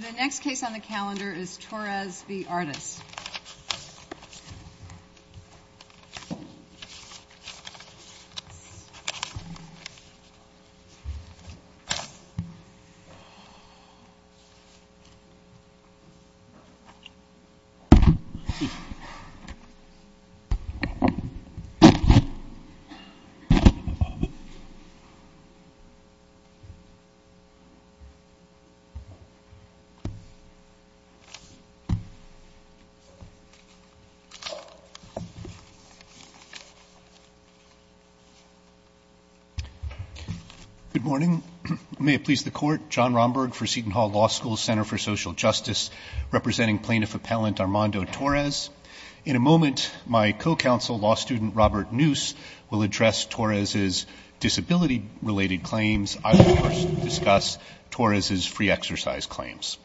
The next case on the calendar is Torres v. Artus. Good morning. May it please the court, John Romberg for Seton Hall Law School's Center for Social Justice, representing plaintiff appellant Armando Torres. In a moment, my co-counsel, law student Robert Noose, will address Torres' disability-related claims. I will, of course, discuss Torres' free exercise claims.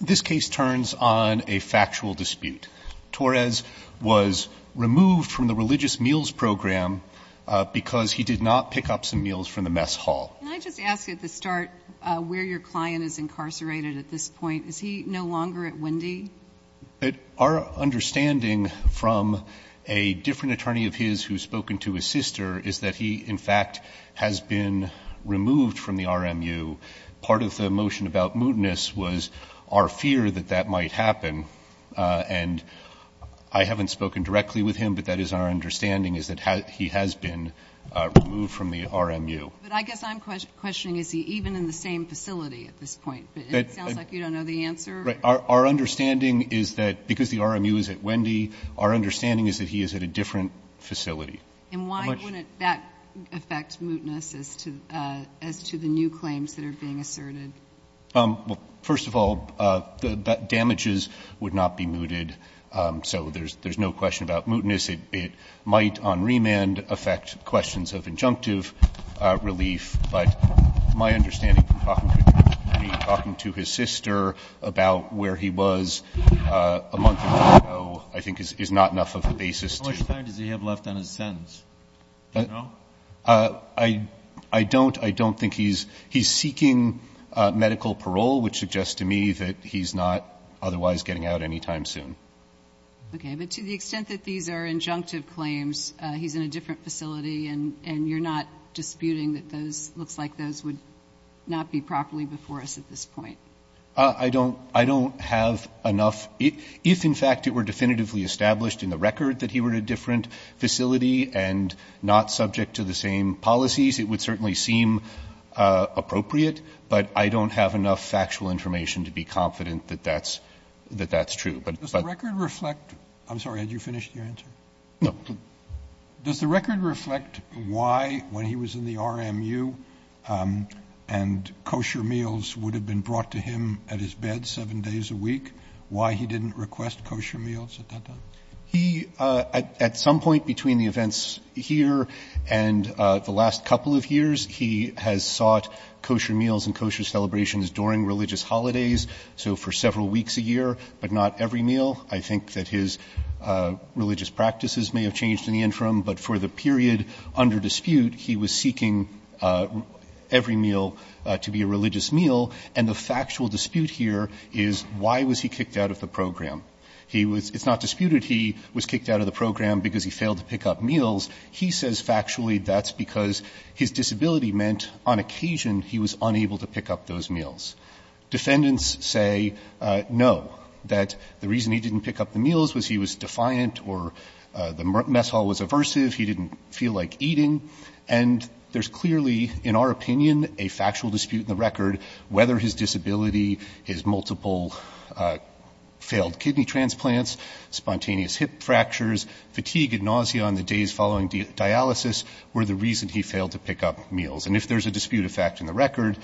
This case turns on a factual dispute. Torres was removed from the Religious Meals Program because he did not pick up some meals from the mess hall. Can I just ask you at the start where your client is incarcerated at this point? Is he no longer at Wendy? Our understanding from a different attorney of his who has spoken to his sister is that he, in fact, has been removed from the RMU. Part of the motion about mootness was our fear that that might happen. And I haven't spoken directly with him, but that is our understanding, is that he has been removed from the RMU. But I guess I'm questioning, is he even in the same facility at this point? But it sounds like you don't know the answer. Right. Our understanding is that, because the RMU is at Wendy, our understanding is that he is at a different facility. And why wouldn't that affect mootness as to the new claims that are being asserted? Well, first of all, damages would not be mooted, so there's no question about mootness. It might on remand affect questions of injunctive relief. But my understanding from talking to his sister about where he was a month ago, I think, How much time does he have left on his sentence? Do you know? I don't. I don't think he's seeking medical parole, which suggests to me that he's not otherwise getting out any time soon. Okay. But to the extent that these are injunctive claims, he's in a different facility, and you're not disputing that those, it looks like those would not be properly before us at this point? I don't have enough. If, in fact, it were definitively established in the record that he were in a different facility and not subject to the same policies, it would certainly seem appropriate, but I don't have enough factual information to be confident that that's true. Does the record reflect, I'm sorry, had you finished your answer? No. Does the record reflect why, when he was in the RMU and kosher meals would have been brought to him at his bed seven days a week, why he didn't request kosher meals at that time? He, at some point between the events here and the last couple of years, he has sought kosher meals and kosher celebrations during religious holidays, so for several weeks a year, but not every meal. I think that his religious practices may have changed in the interim, but for the period under dispute, he was seeking every meal to be a religious meal, and the fact that it's not disputed he was kicked out of the program because he failed to pick up meals, he says factually that's because his disability meant on occasion he was unable to pick up those meals. Defendants say no, that the reason he didn't pick up the meals was he was defiant or the mess hall was aversive, he didn't feel like eating, and there's clearly, in our opinion, a factual dispute in the record whether his disability, his multiple failed kidney transplants, spontaneous hip fractures, fatigue and nausea on the days following dialysis were the reason he failed to pick up meals, and if there's a dispute of fact in the record,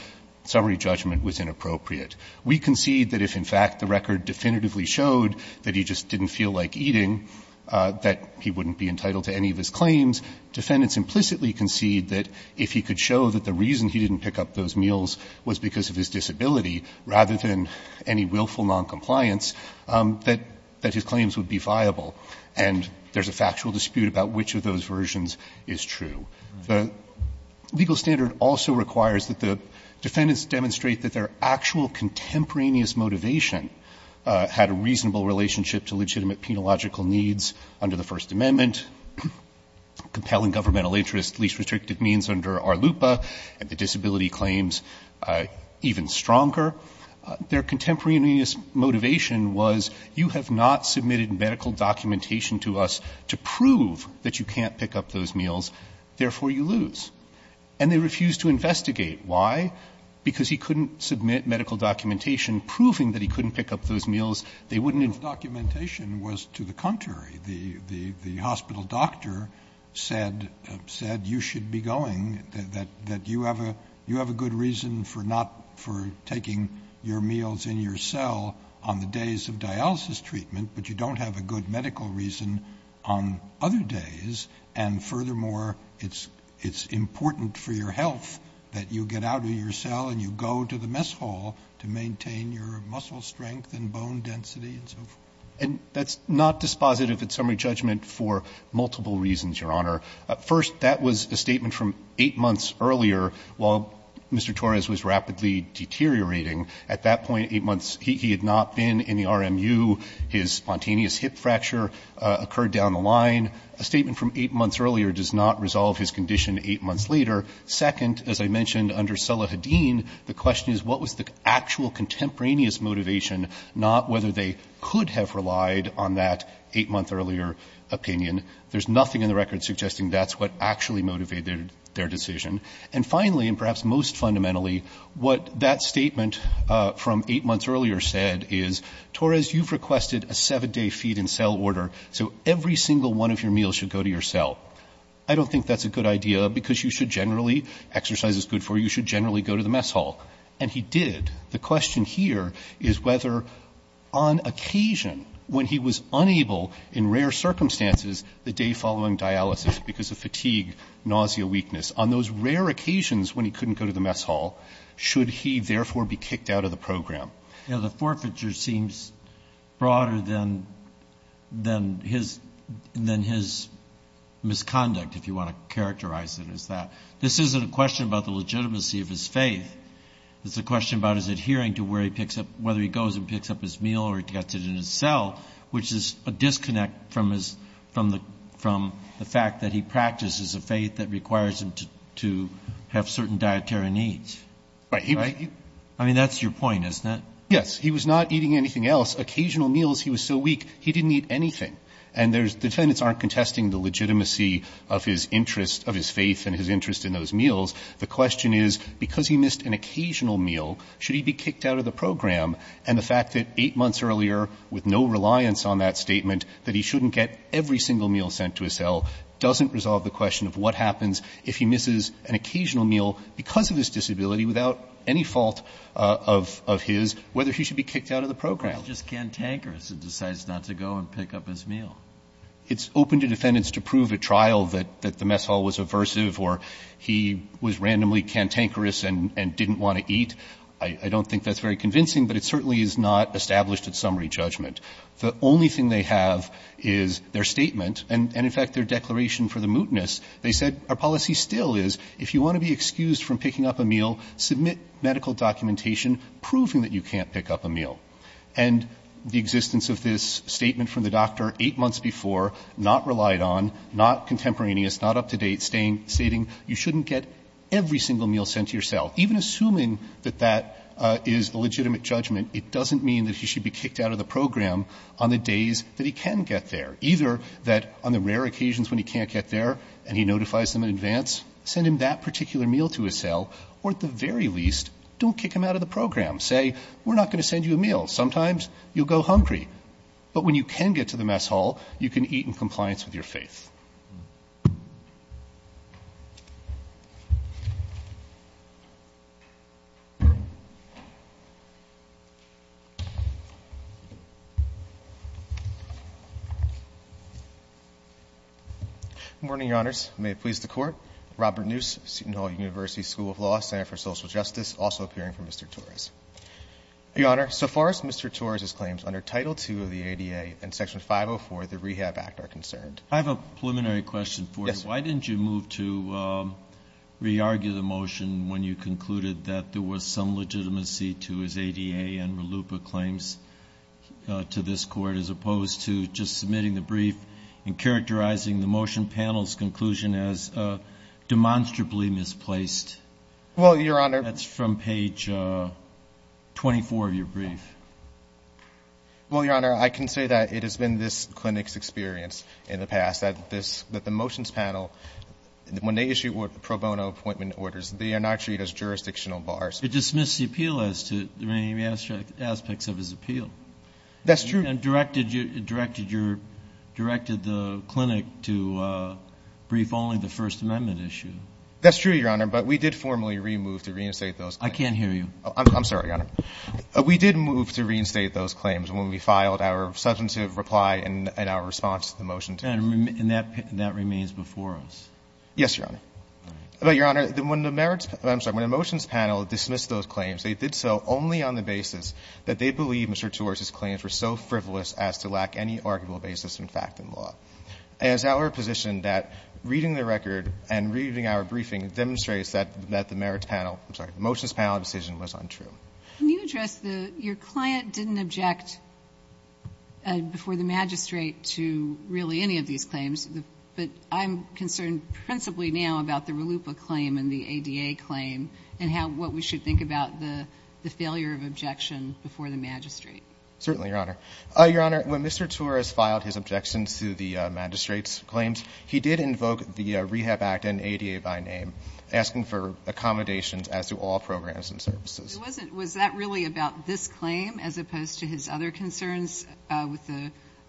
summary judgment was inappropriate. We concede that if, in fact, the record definitively showed that he just didn't feel like eating, that he wouldn't be entitled to any of his claims. Defendants implicitly concede that if he could show that the reason he didn't pick up those meals was because of his disability rather than any willful noncompliance, that his claims would be viable, and there's a factual dispute about which of those versions is true. The legal standard also requires that the defendants demonstrate that their actual contemporaneous motivation had a reasonable relationship to legitimate penological needs under the First Amendment, compelling governmental interest, least restrictive means under ARLUPA, and the disability claims even stronger. Their contemporaneous motivation was, you have not submitted medical documentation to us to prove that you can't pick up those meals, therefore you lose. And they refused to investigate. Why? Because he couldn't submit medical documentation proving that he couldn't pick up those meals. They wouldn't investigate. I think that you should be going, that you have a good reason for not taking your meals in your cell on the days of dialysis treatment, but you don't have a good medical reason on other days, and furthermore, it's important for your health that you get out of your cell and you go to the mess hall to maintain your muscle strength and bone density and so forth. And that's not dispositive of summary judgment for multiple reasons, Your Honor. First, that was a statement from 8 months earlier, while Mr. Torres was rapidly deteriorating. At that point, 8 months, he had not been in the RMU. His spontaneous hip fracture occurred down the line. A statement from 8 months earlier does not resolve his condition 8 months later. Second, as I mentioned, under Sullah Hadeen, the question is what was the actual contemporaneous motivation, not whether they could have relied on that 8-month earlier opinion. There's nothing in the record suggesting that's what actually motivated their decision. And finally, and perhaps most fundamentally, what that statement from 8 months earlier said is, Torres, you've requested a 7-day feed-in-cell order, so every single one of your meals should go to your cell. I don't think that's a good idea because you should generally, exercise is good for you, you should generally go to the mess hall. And he did. The question here is whether, on occasion, when he was unable in rare circumstances, the day following dialysis because of fatigue, nausea, weakness, on those rare occasions when he couldn't go to the mess hall, should he therefore be kicked out of the program? Yeah, the forfeiture seems broader than his misconduct, if you want to characterize it as that. This isn't a question about the legitimacy of his faith. It's a question about his adhering to where he picks up, whether he goes and picks up his meal or gets it in his cell, which is a disconnect from the fact that he practices a faith that requires him to have certain dietary needs. Right? I mean, that's your point, isn't it? Yes. He was not eating anything else. Occasional meals, he was so weak, he didn't eat anything. And the defendants aren't contesting the legitimacy of his interest, of his faith and his interest in those meals. The question is, because he missed an occasional meal, should he be kicked out of the program? And the fact that eight months earlier, with no reliance on that statement, that he shouldn't get every single meal sent to his cell doesn't resolve the question of what happens if he misses an occasional meal because of his disability, without any fault of his, whether he should be kicked out of the program. Well, he's just cantankerous and decides not to go and pick up his meal. It's open to defendants to prove at trial that the mess hall was aversive or he was randomly cantankerous and didn't want to eat. I don't think that's very convincing, but it certainly is not established at summary judgment. The only thing they have is their statement and, in fact, their declaration for the mootness. They said, our policy still is, if you want to be excused from picking up a meal, submit medical documentation proving that you can't pick up a meal. And the existence of this statement from the doctor eight months before, not relied on, not contemporaneous, not up to date, stating you shouldn't get every single meal sent to your cell. Even assuming that that is a legitimate judgment, it doesn't mean that he should be kicked out of the program on the days that he can get there, either that on the rare occasions when he can't get there and he notifies them in advance, send him that particular meal to his cell, or at the very least, don't kick him out of the program. Say, we're not going to send you a meal. Sometimes you'll go hungry. But when you can get to the mess hall, you can eat in compliance with your faith. Good morning, Your Honors. May it please the Court. Robert Noose, Seton Hall University School of Law, Center for Social Justice, also appearing for Mr. Torres. Your Honor, so far as Mr. Torres's claims under Title II of the ADA and Section 504 of the Rehab Act are concerned. I have a preliminary question for you. Yes. Why didn't you move to re-argue the motion when you concluded that there was some legitimacy to his ADA and RLUIPA claims to this Court, as opposed to just submitting the brief and characterizing the motion panel's conclusion as demonstrably misplaced? That's from page 24 of your brief. Well, Your Honor, I can say that it has been this clinic's experience in the past that the motions panel, when they issue pro bono appointment orders, they are not treated as jurisdictional bars. It dismisses the appeal as to any aspects of his appeal. That's true. And directed the clinic to brief only the First Amendment issue. That's true, Your Honor. But we did formally remove to reinstate those. I can't hear you. I'm sorry, Your Honor. We did move to reinstate those claims when we filed our substantive reply in our response to the motion. And that remains before us. Yes, Your Honor. But, Your Honor, when the merits of the motions panel dismissed those claims, they did so only on the basis that they believed Mr. Tewars' claims were so frivolous as to lack any arguable basis in fact and law. And it's our position that reading the record and reading our briefing demonstrates that the merits panel, I'm sorry, the motions panel decision was untrue. Can you address the, your client didn't object before the magistrate to really any of these claims, but I'm concerned principally now about the Raluppa claim and the ADA claim and how, what we should think about the failure of objection before the magistrate. Certainly, Your Honor. Your Honor, when Mr. Tewars filed his objections to the magistrate's claims, he did invoke the Rehab Act and ADA by name, asking for accommodations as to all programs and services. It wasn't, was that really about this claim as opposed to his other concerns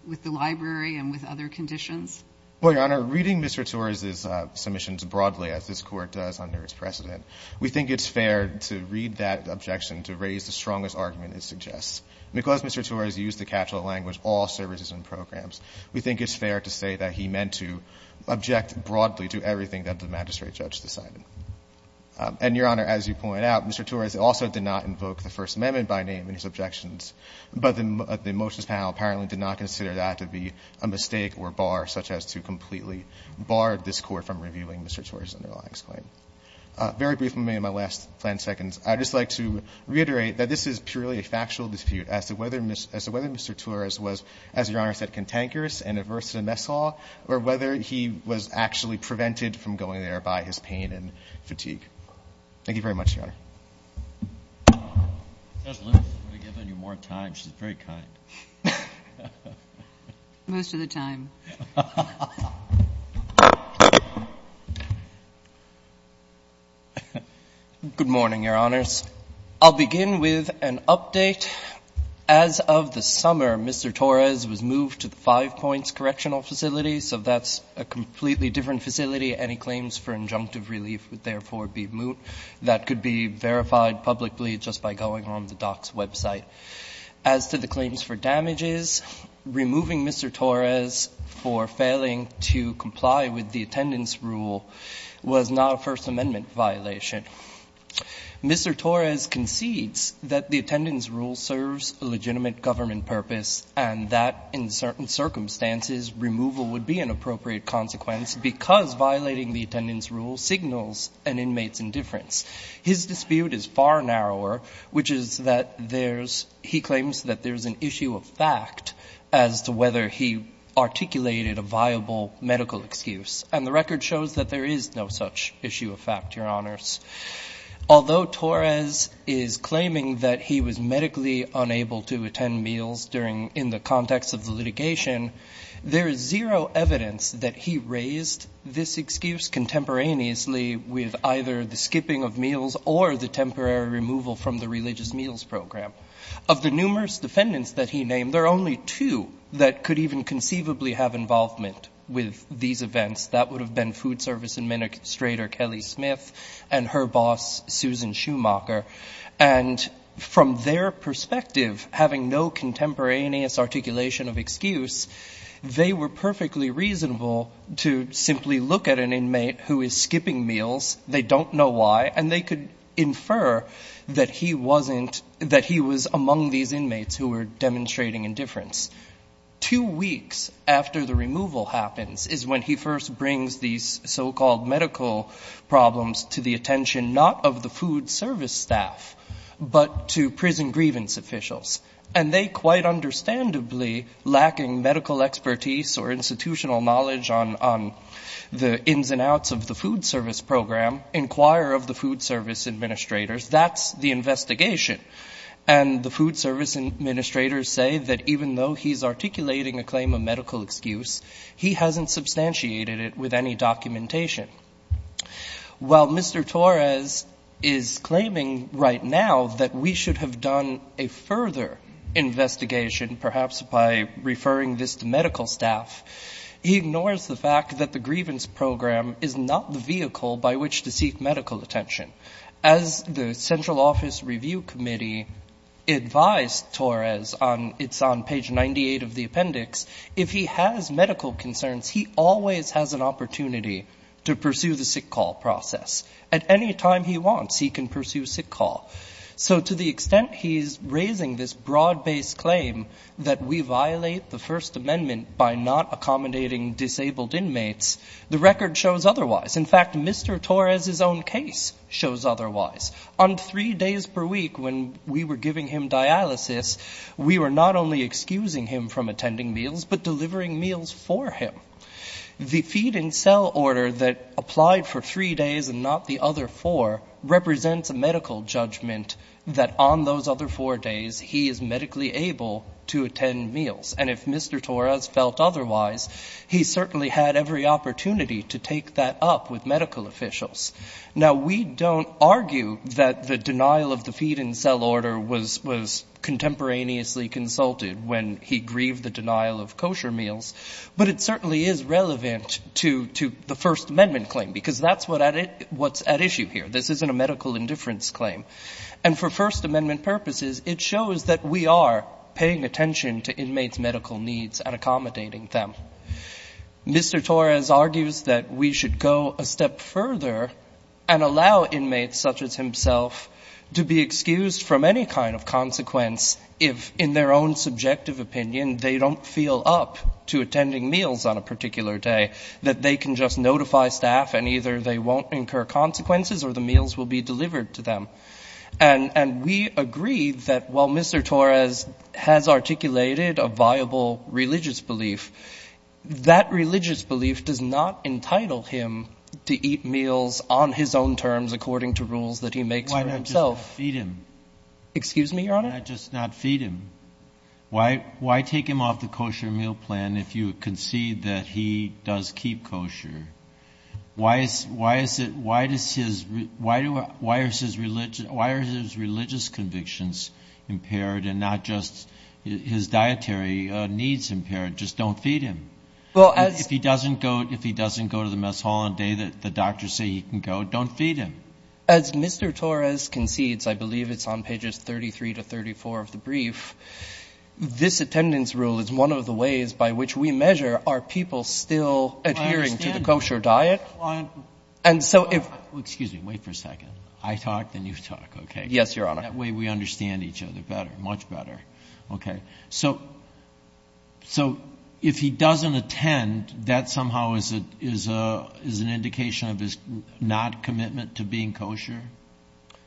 with the library and with other conditions? Well, Your Honor, reading Mr. Tewars' submissions broadly, as this Court does under its precedent, we think it's fair to read that objection to raise the strongest argument it suggests. Because Mr. Tewars used the catch-all language, all services and programs, we think it's fair to say that he meant to object broadly to everything that the magistrate judge decided. And, Your Honor, as you point out, Mr. Tewars also did not invoke the First Amendment by name in his objections, but the motions panel apparently did not consider that to be a mistake or a bar, such as to completely bar this Court from reviewing Mr. Tewars' underlying claim. Very briefly, in my last 10 seconds, I would just like to reiterate that this is purely a factual dispute as to whether Mr. Tewars was, as Your Honor said, cantankerous and averse to the mess hall, or whether he was actually prevented from going there by his pain and fatigue. Thank you very much, Your Honor. Just let me give you more time. She's very kind. Most of the time. Good morning, Your Honors. I'll begin with an update. As of the summer, Mr. Torres was moved to the Five Points Correctional Facility, so that's a completely different facility. Any claims for injunctive relief would therefore be moot. That could be verified publicly just by going on the DOC's website. As to the claims for damages, removing Mr. Torres for failing to comply with the attendance rule was not a First Amendment violation. Mr. Torres concedes that the attendance rule serves a legitimate government purpose and that in certain circumstances, removal would be an appropriate consequence because violating the attendance rule signals an inmate's indifference. His dispute is far narrower, which is that there's – he claims that there's an issue of fact as to whether he articulated a viable medical excuse. And the record shows that there is no such issue of fact, Your Honors. Although Torres is claiming that he was medically unable to attend meals during – in the context of the litigation, there is zero evidence that he raised this excuse contemporaneously with either the skipping of meals or the temporary removal from the religious meals program. Of the numerous defendants that he named, there are only two that could even conceivably have involvement with these events. That would have been Food Service Administrator Kelly Smith and her boss, Susan Schumacher. And from their perspective, having no contemporaneous articulation of excuse, they were perfectly reasonable to simply look at an inmate who is skipping meals, they don't know why, and they could infer that he wasn't – that he was among these inmates who were demonstrating indifference. Two weeks after the removal happens is when he first brings these so-called medical problems to the attention not of the food service staff, but to prison grievance officials. And they quite understandably, lacking medical expertise or institutional knowledge on the ins and outs of the food service program, inquire of the food service administrators. That's the investigation. And the food service administrators say that even though he's articulating a claim of medical excuse, he hasn't substantiated it with any documentation. While Mr. Torres is claiming right now that we should have done a further investigation, perhaps by referring this to medical staff, he ignores the fact that the grievance program is not the vehicle by which to seek medical attention. As the Central Office Review Committee advised Torres, it's on page 98 of the appendix, if he has medical concerns, he always has an opportunity to pursue the sick call process. At any time he wants, he can pursue sick call. So to the extent he's raising this broad-based claim that we violate the First Amendment by not accommodating disabled inmates, the record shows otherwise. In fact, Mr. Torres' own case shows otherwise. On three days per week when we were giving him dialysis, we were not only excusing him from attending meals, but delivering meals for him. The feed and sell order that applied for three days and not the other four represents a medical judgment that on those other four days, he is medically able to attend meals. And if Mr. Torres felt otherwise, he certainly had every opportunity to take that up with medical officials. Now, we don't argue that the denial of the feed and sell order was contemporaneously consulted when he grieved the denial of kosher meals, but it certainly is relevant to the First Amendment claim, because that's what's at issue here. This isn't a medical indifference claim. And for First Amendment purposes, it shows that we are paying attention to inmates' medical needs and Mr. Torres argues that we should go a step further and allow inmates such as himself to be excused from any kind of consequence if, in their own subjective opinion, they don't feel up to attending meals on a particular day, that they can just notify staff and either they won't incur consequences or the meals will be delivered to them. And we agree that while Mr. Torres has articulated a viable religious belief, that religious belief does not entitle him to eat meals on his own terms according to rules that he makes for himself. Why not just feed him? Excuse me, Your Honor? Why not just not feed him? Why take him off the kosher meal plan if you concede that he does keep kosher? Why are his religious convictions impaired and not just his dietary needs impaired? Just don't feed him. If he doesn't go to the mess hall on a day that the doctors say he can go, don't feed him. As Mr. Torres concedes, I believe it's on pages 33 to 34 of the brief, this attendance rule is one of the ways by which we measure, are people still adhering to the kosher diet? And so if — Excuse me. Wait for a second. I talk, then you talk, okay? Yes, Your Honor. That way we understand each other better, much better. Okay? So if he doesn't attend, that somehow is an indication of his not commitment to being kosher?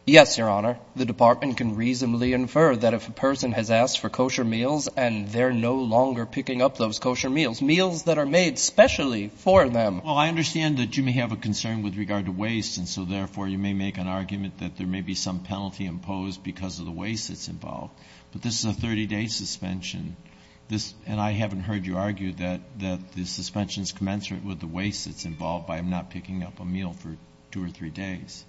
Yes, Your Honor. The department can reasonably infer that if a person has asked for kosher meals and they're no longer picking up those kosher meals, meals that are made specially for them. Well, I understand that you may have a concern with regard to waste, and so therefore you may make an argument that there may be some penalty imposed because of the waste that's involved. But this is a 30-day suspension. And I haven't heard you argue that the suspension is commensurate with the waste that's involved by him not picking up a meal for two or three days.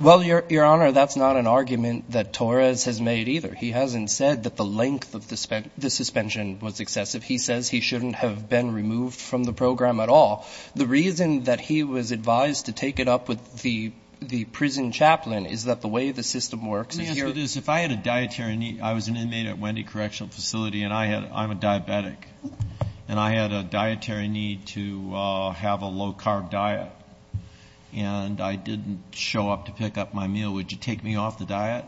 Well, Your Honor, that's not an argument that Torres has made either. He hasn't said that the length of the suspension was excessive. He says he shouldn't have been removed from the program at all. The reason that he was advised to take it up with the prison chaplain is that the way the system works in here — I was an inmate at Wendy Correctional Facility, and I'm a diabetic. And I had a dietary need to have a low-carb diet. And I didn't show up to pick up my meal. Would you take me off the diet?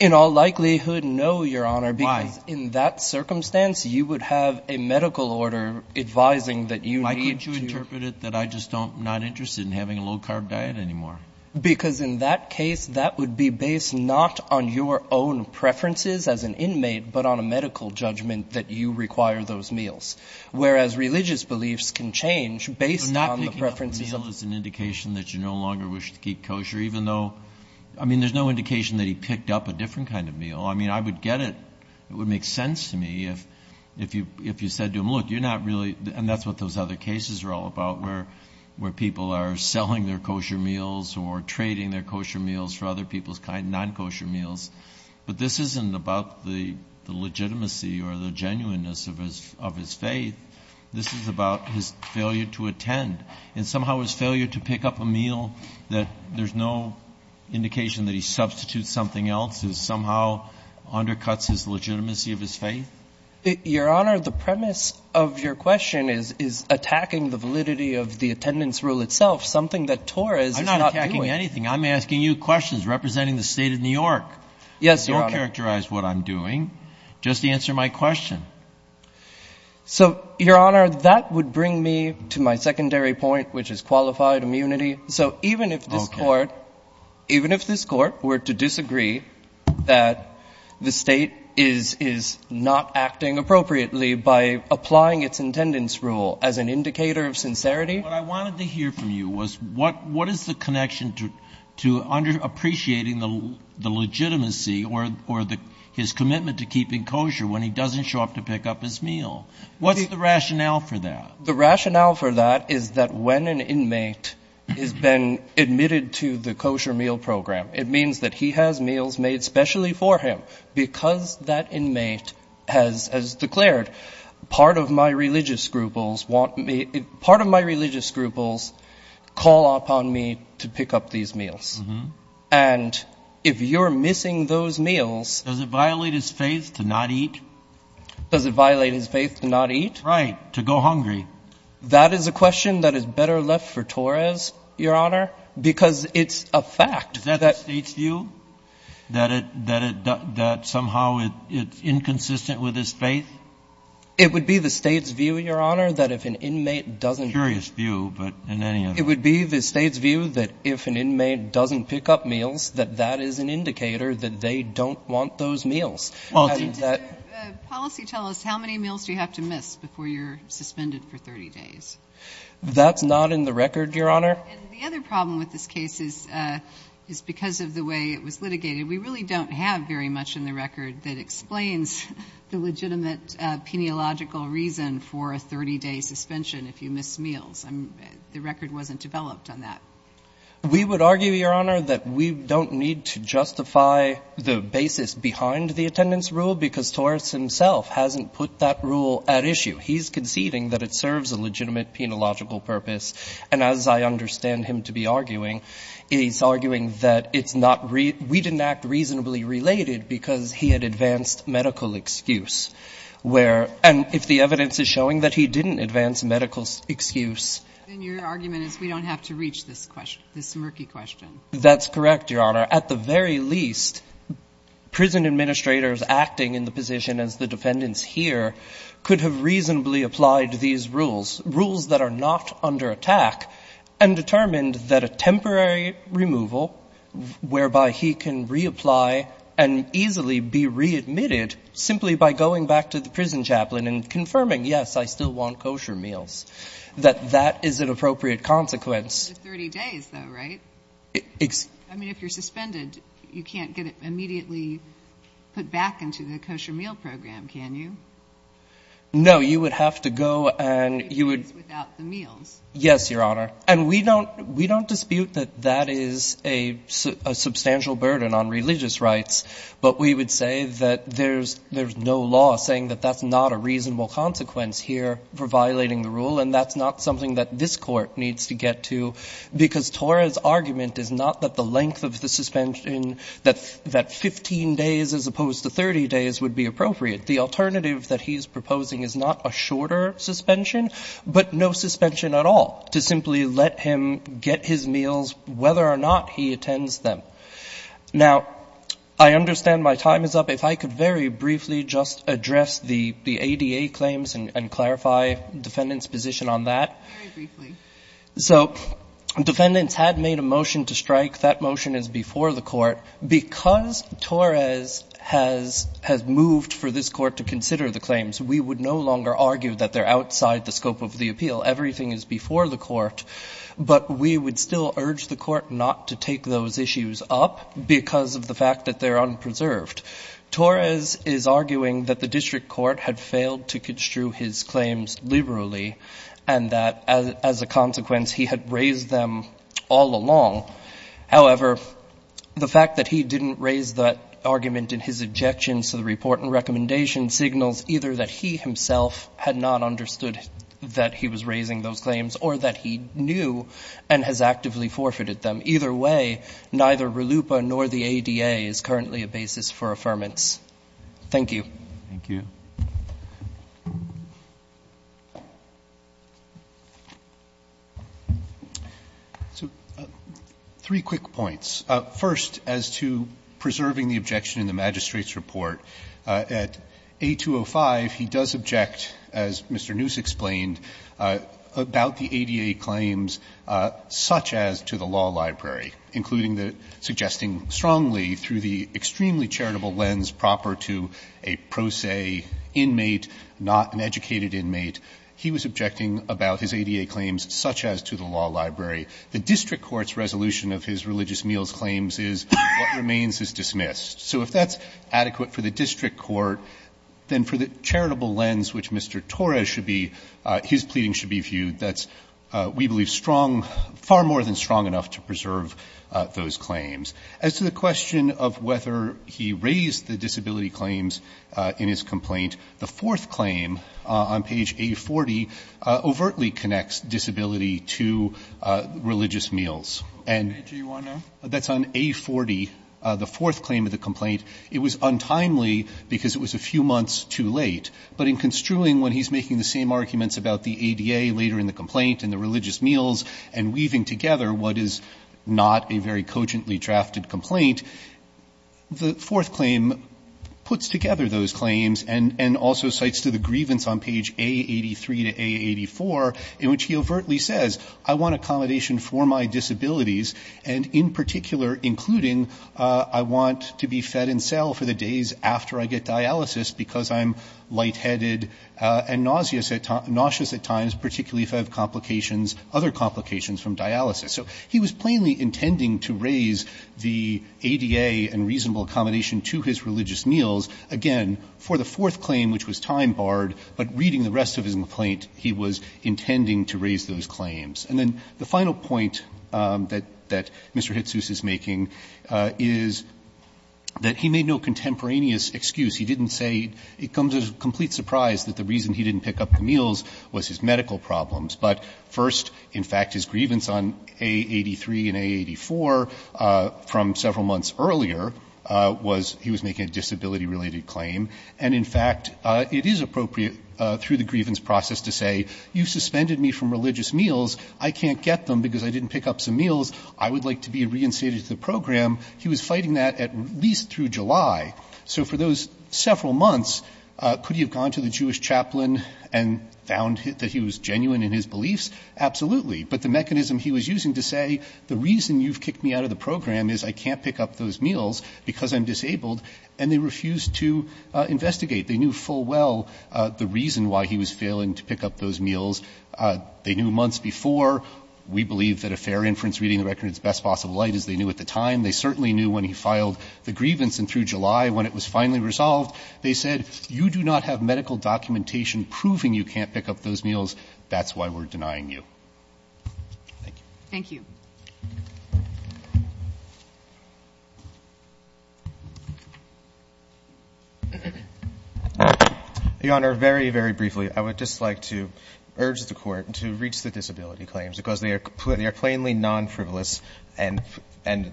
In all likelihood, no, Your Honor. Why? Because in that circumstance, you would have a medical order advising that you need to — Why could you interpret it that I'm just not interested in having a low-carb diet anymore? Because in that case, that would be based not on your own preferences as an inmate, but on a medical judgment that you require those meals, whereas religious beliefs can change based on the preferences of — So not picking up a meal is an indication that you no longer wish to keep kosher, even though — I mean, there's no indication that he picked up a different kind of meal. I mean, I would get it. It would make sense to me if you said to him, look, you're not really — and that's what those other cases are all about, where people are selling their kosher meals or trading their kosher meals for other people's non-kosher meals. But this isn't about the legitimacy or the genuineness of his faith. This is about his failure to attend and somehow his failure to pick up a meal, that there's no indication that he substitutes something else. It somehow undercuts his legitimacy of his faith. Your Honor, the premise of your question is attacking the validity of the attendance rule itself, something that Torres is not doing. I'm not attacking anything. I'm asking you questions representing the State of New York. Yes, Your Honor. Don't characterize what I'm doing. Just answer my question. So, Your Honor, that would bring me to my secondary point, which is qualified immunity. Okay. So even if this Court were to disagree that the State is not acting appropriately by applying its attendance rule as an indicator of sincerity — What I wanted to hear from you was, what is the connection to underappreciating the legitimacy or his commitment to keeping kosher when he doesn't show up to pick up his meal? What's the rationale for that? The rationale for that is that when an inmate has been admitted to the kosher meal program, it means that he has meals made specially for him. Because that inmate has declared, part of my religious scruples call upon me to pick up these meals. And if you're missing those meals — Does it violate his faith to not eat? Does it violate his faith to not eat? Right. To go hungry. That is a question that is better left for Torres, Your Honor, because it's a fact. Is that the State's view? That somehow it's inconsistent with his faith? It would be the State's view, Your Honor, that if an inmate doesn't — Curious view, but in any event — It would be the State's view that if an inmate doesn't pick up meals, that that is an indicator that they don't want those meals. Does the policy tell us how many meals do you have to miss before you're suspended for 30 days? That's not in the record, Your Honor. And the other problem with this case is because of the way it was litigated, we really don't have very much in the record that explains the legitimate peniological reason for a 30-day suspension if you miss meals. The record wasn't developed on that. We would argue, Your Honor, that we don't need to justify the basis behind the attendance rule because Torres himself hasn't put that rule at issue. He's conceding that it serves a legitimate peniological purpose. And as I understand him to be arguing, he's arguing that it's not — we didn't act reasonably related because he had advanced medical excuse where — and if the evidence is showing that he didn't advance medical excuse — Then your argument is we don't have to reach this question, this murky question. That's correct, Your Honor. At the very least, prison administrators acting in the position as the defendants here could have reasonably applied these rules, rules that are not under attack, and determined that a temporary removal whereby he can reapply and easily be readmitted simply by going back to the prison chaplain and confirming, yes, I still want kosher meals, that that is an appropriate consequence. For 30 days, though, right? I mean, if you're suspended, you can't get immediately put back into the kosher meal program, can you? No. You would have to go and you would — 30 days without the meals. Yes, Your Honor. And we don't — we don't dispute that that is a substantial burden on religious rights, but we would say that there's no law saying that that's not a reasonable consequence here for violating the rule, and that's not something that this Court needs to get to, because Tora's argument is not that the length of the suspension that 15 days as opposed to 30 days would be appropriate. The alternative that he's proposing is not a shorter suspension, but no suspension at all, to simply let him get his meals whether or not he attends them. Now, I understand my time is up. If I could very briefly just address the ADA claims and clarify the defendant's position on that. Very briefly. So defendants had made a motion to strike. That motion is before the Court. Because Tora's has moved for this Court to consider the claims, we would no longer argue that they're outside the scope of the appeal. Everything is before the Court. But we would still urge the Court not to take those issues up because of the fact that they're unpreserved. Tora's is arguing that the district court had failed to construe his claims liberally and that, as a consequence, he had raised them all along. However, the fact that he didn't raise that argument in his objection to the report and recommendation signals either that he himself had not understood that he was raising those claims or that he knew and has actively forfeited them. And either way, neither RLUIPA nor the ADA is currently a basis for affirmance. Thank you. Thank you. So three quick points. First, as to preserving the objection in the magistrate's report, at A205, he does not subject, as Mr. Noose explained, about the ADA claims such as to the law library, including the suggesting strongly through the extremely charitable lens proper to a pro se inmate, not an educated inmate, he was objecting about his ADA claims such as to the law library. The district court's resolution of his religious meals claims is what remains is dismissed. So if that's adequate for the district court, then for the charitable lens which Mr. Torres should be his pleading should be viewed, that's, we believe, strong, far more than strong enough to preserve those claims. As to the question of whether he raised the disability claims in his complaint, the fourth claim on page A40 overtly connects disability to religious meals. And that's on A40. The fourth claim of the complaint, it was untimely because it was a few months too late. But in construing when he's making the same arguments about the ADA later in the complaint and the religious meals and weaving together what is not a very cogently drafted complaint, the fourth claim puts together those claims and also cites to the grievance on page A83 to A84 in which he overtly says, I want accommodation for my disabilities and in particular including I want to be fed in cell for the days after I get dialysis because I'm lightheaded and nauseous at times, particularly if I have complications, other complications from dialysis. So he was plainly intending to raise the ADA and reasonable accommodation to his religious meals, again, for the fourth claim which was time barred, but reading the rest of his complaint, he was intending to raise those claims. And then the final point that Mr. Hitzous is making is that he made no contemporaneous excuse. He didn't say it comes as a complete surprise that the reason he didn't pick up the meals was his medical problems. But first, in fact, his grievance on A83 and A84 from several months earlier was he was making a disability-related claim. And in fact, it is appropriate through the grievance process to say you suspended me from religious meals. I can't get them because I didn't pick up some meals. I would like to be reinstated to the program. He was fighting that at least through July. So for those several months, could he have gone to the Jewish chaplain and found that he was genuine in his beliefs? Absolutely. But the mechanism he was using to say the reason you've kicked me out of the program is I can't pick up those meals because I'm disabled, and they refused to investigate. They knew full well the reason why he was failing to pick up those meals. They knew months before. We believe that a fair inference reading the record in its best possible light is they knew at the time. They certainly knew when he filed the grievance and through July, when it was finally resolved, they said you do not have medical documentation proving you can't pick up those meals. That's why we're denying you. Thank you. Your Honor, very, very briefly, I would just like to urge the court to reach the disability claims because they are plainly non-frivolous and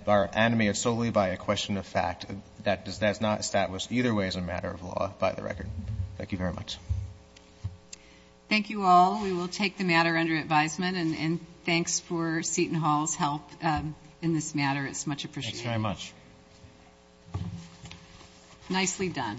are animated solely by a question of fact. That's not established either way as a matter of law by the record. Thank you very much. Thank you all. Thank you. Thank you all for Seaton Hall's help in this matter. It's much appreciated. Thanks very much. Nicely done.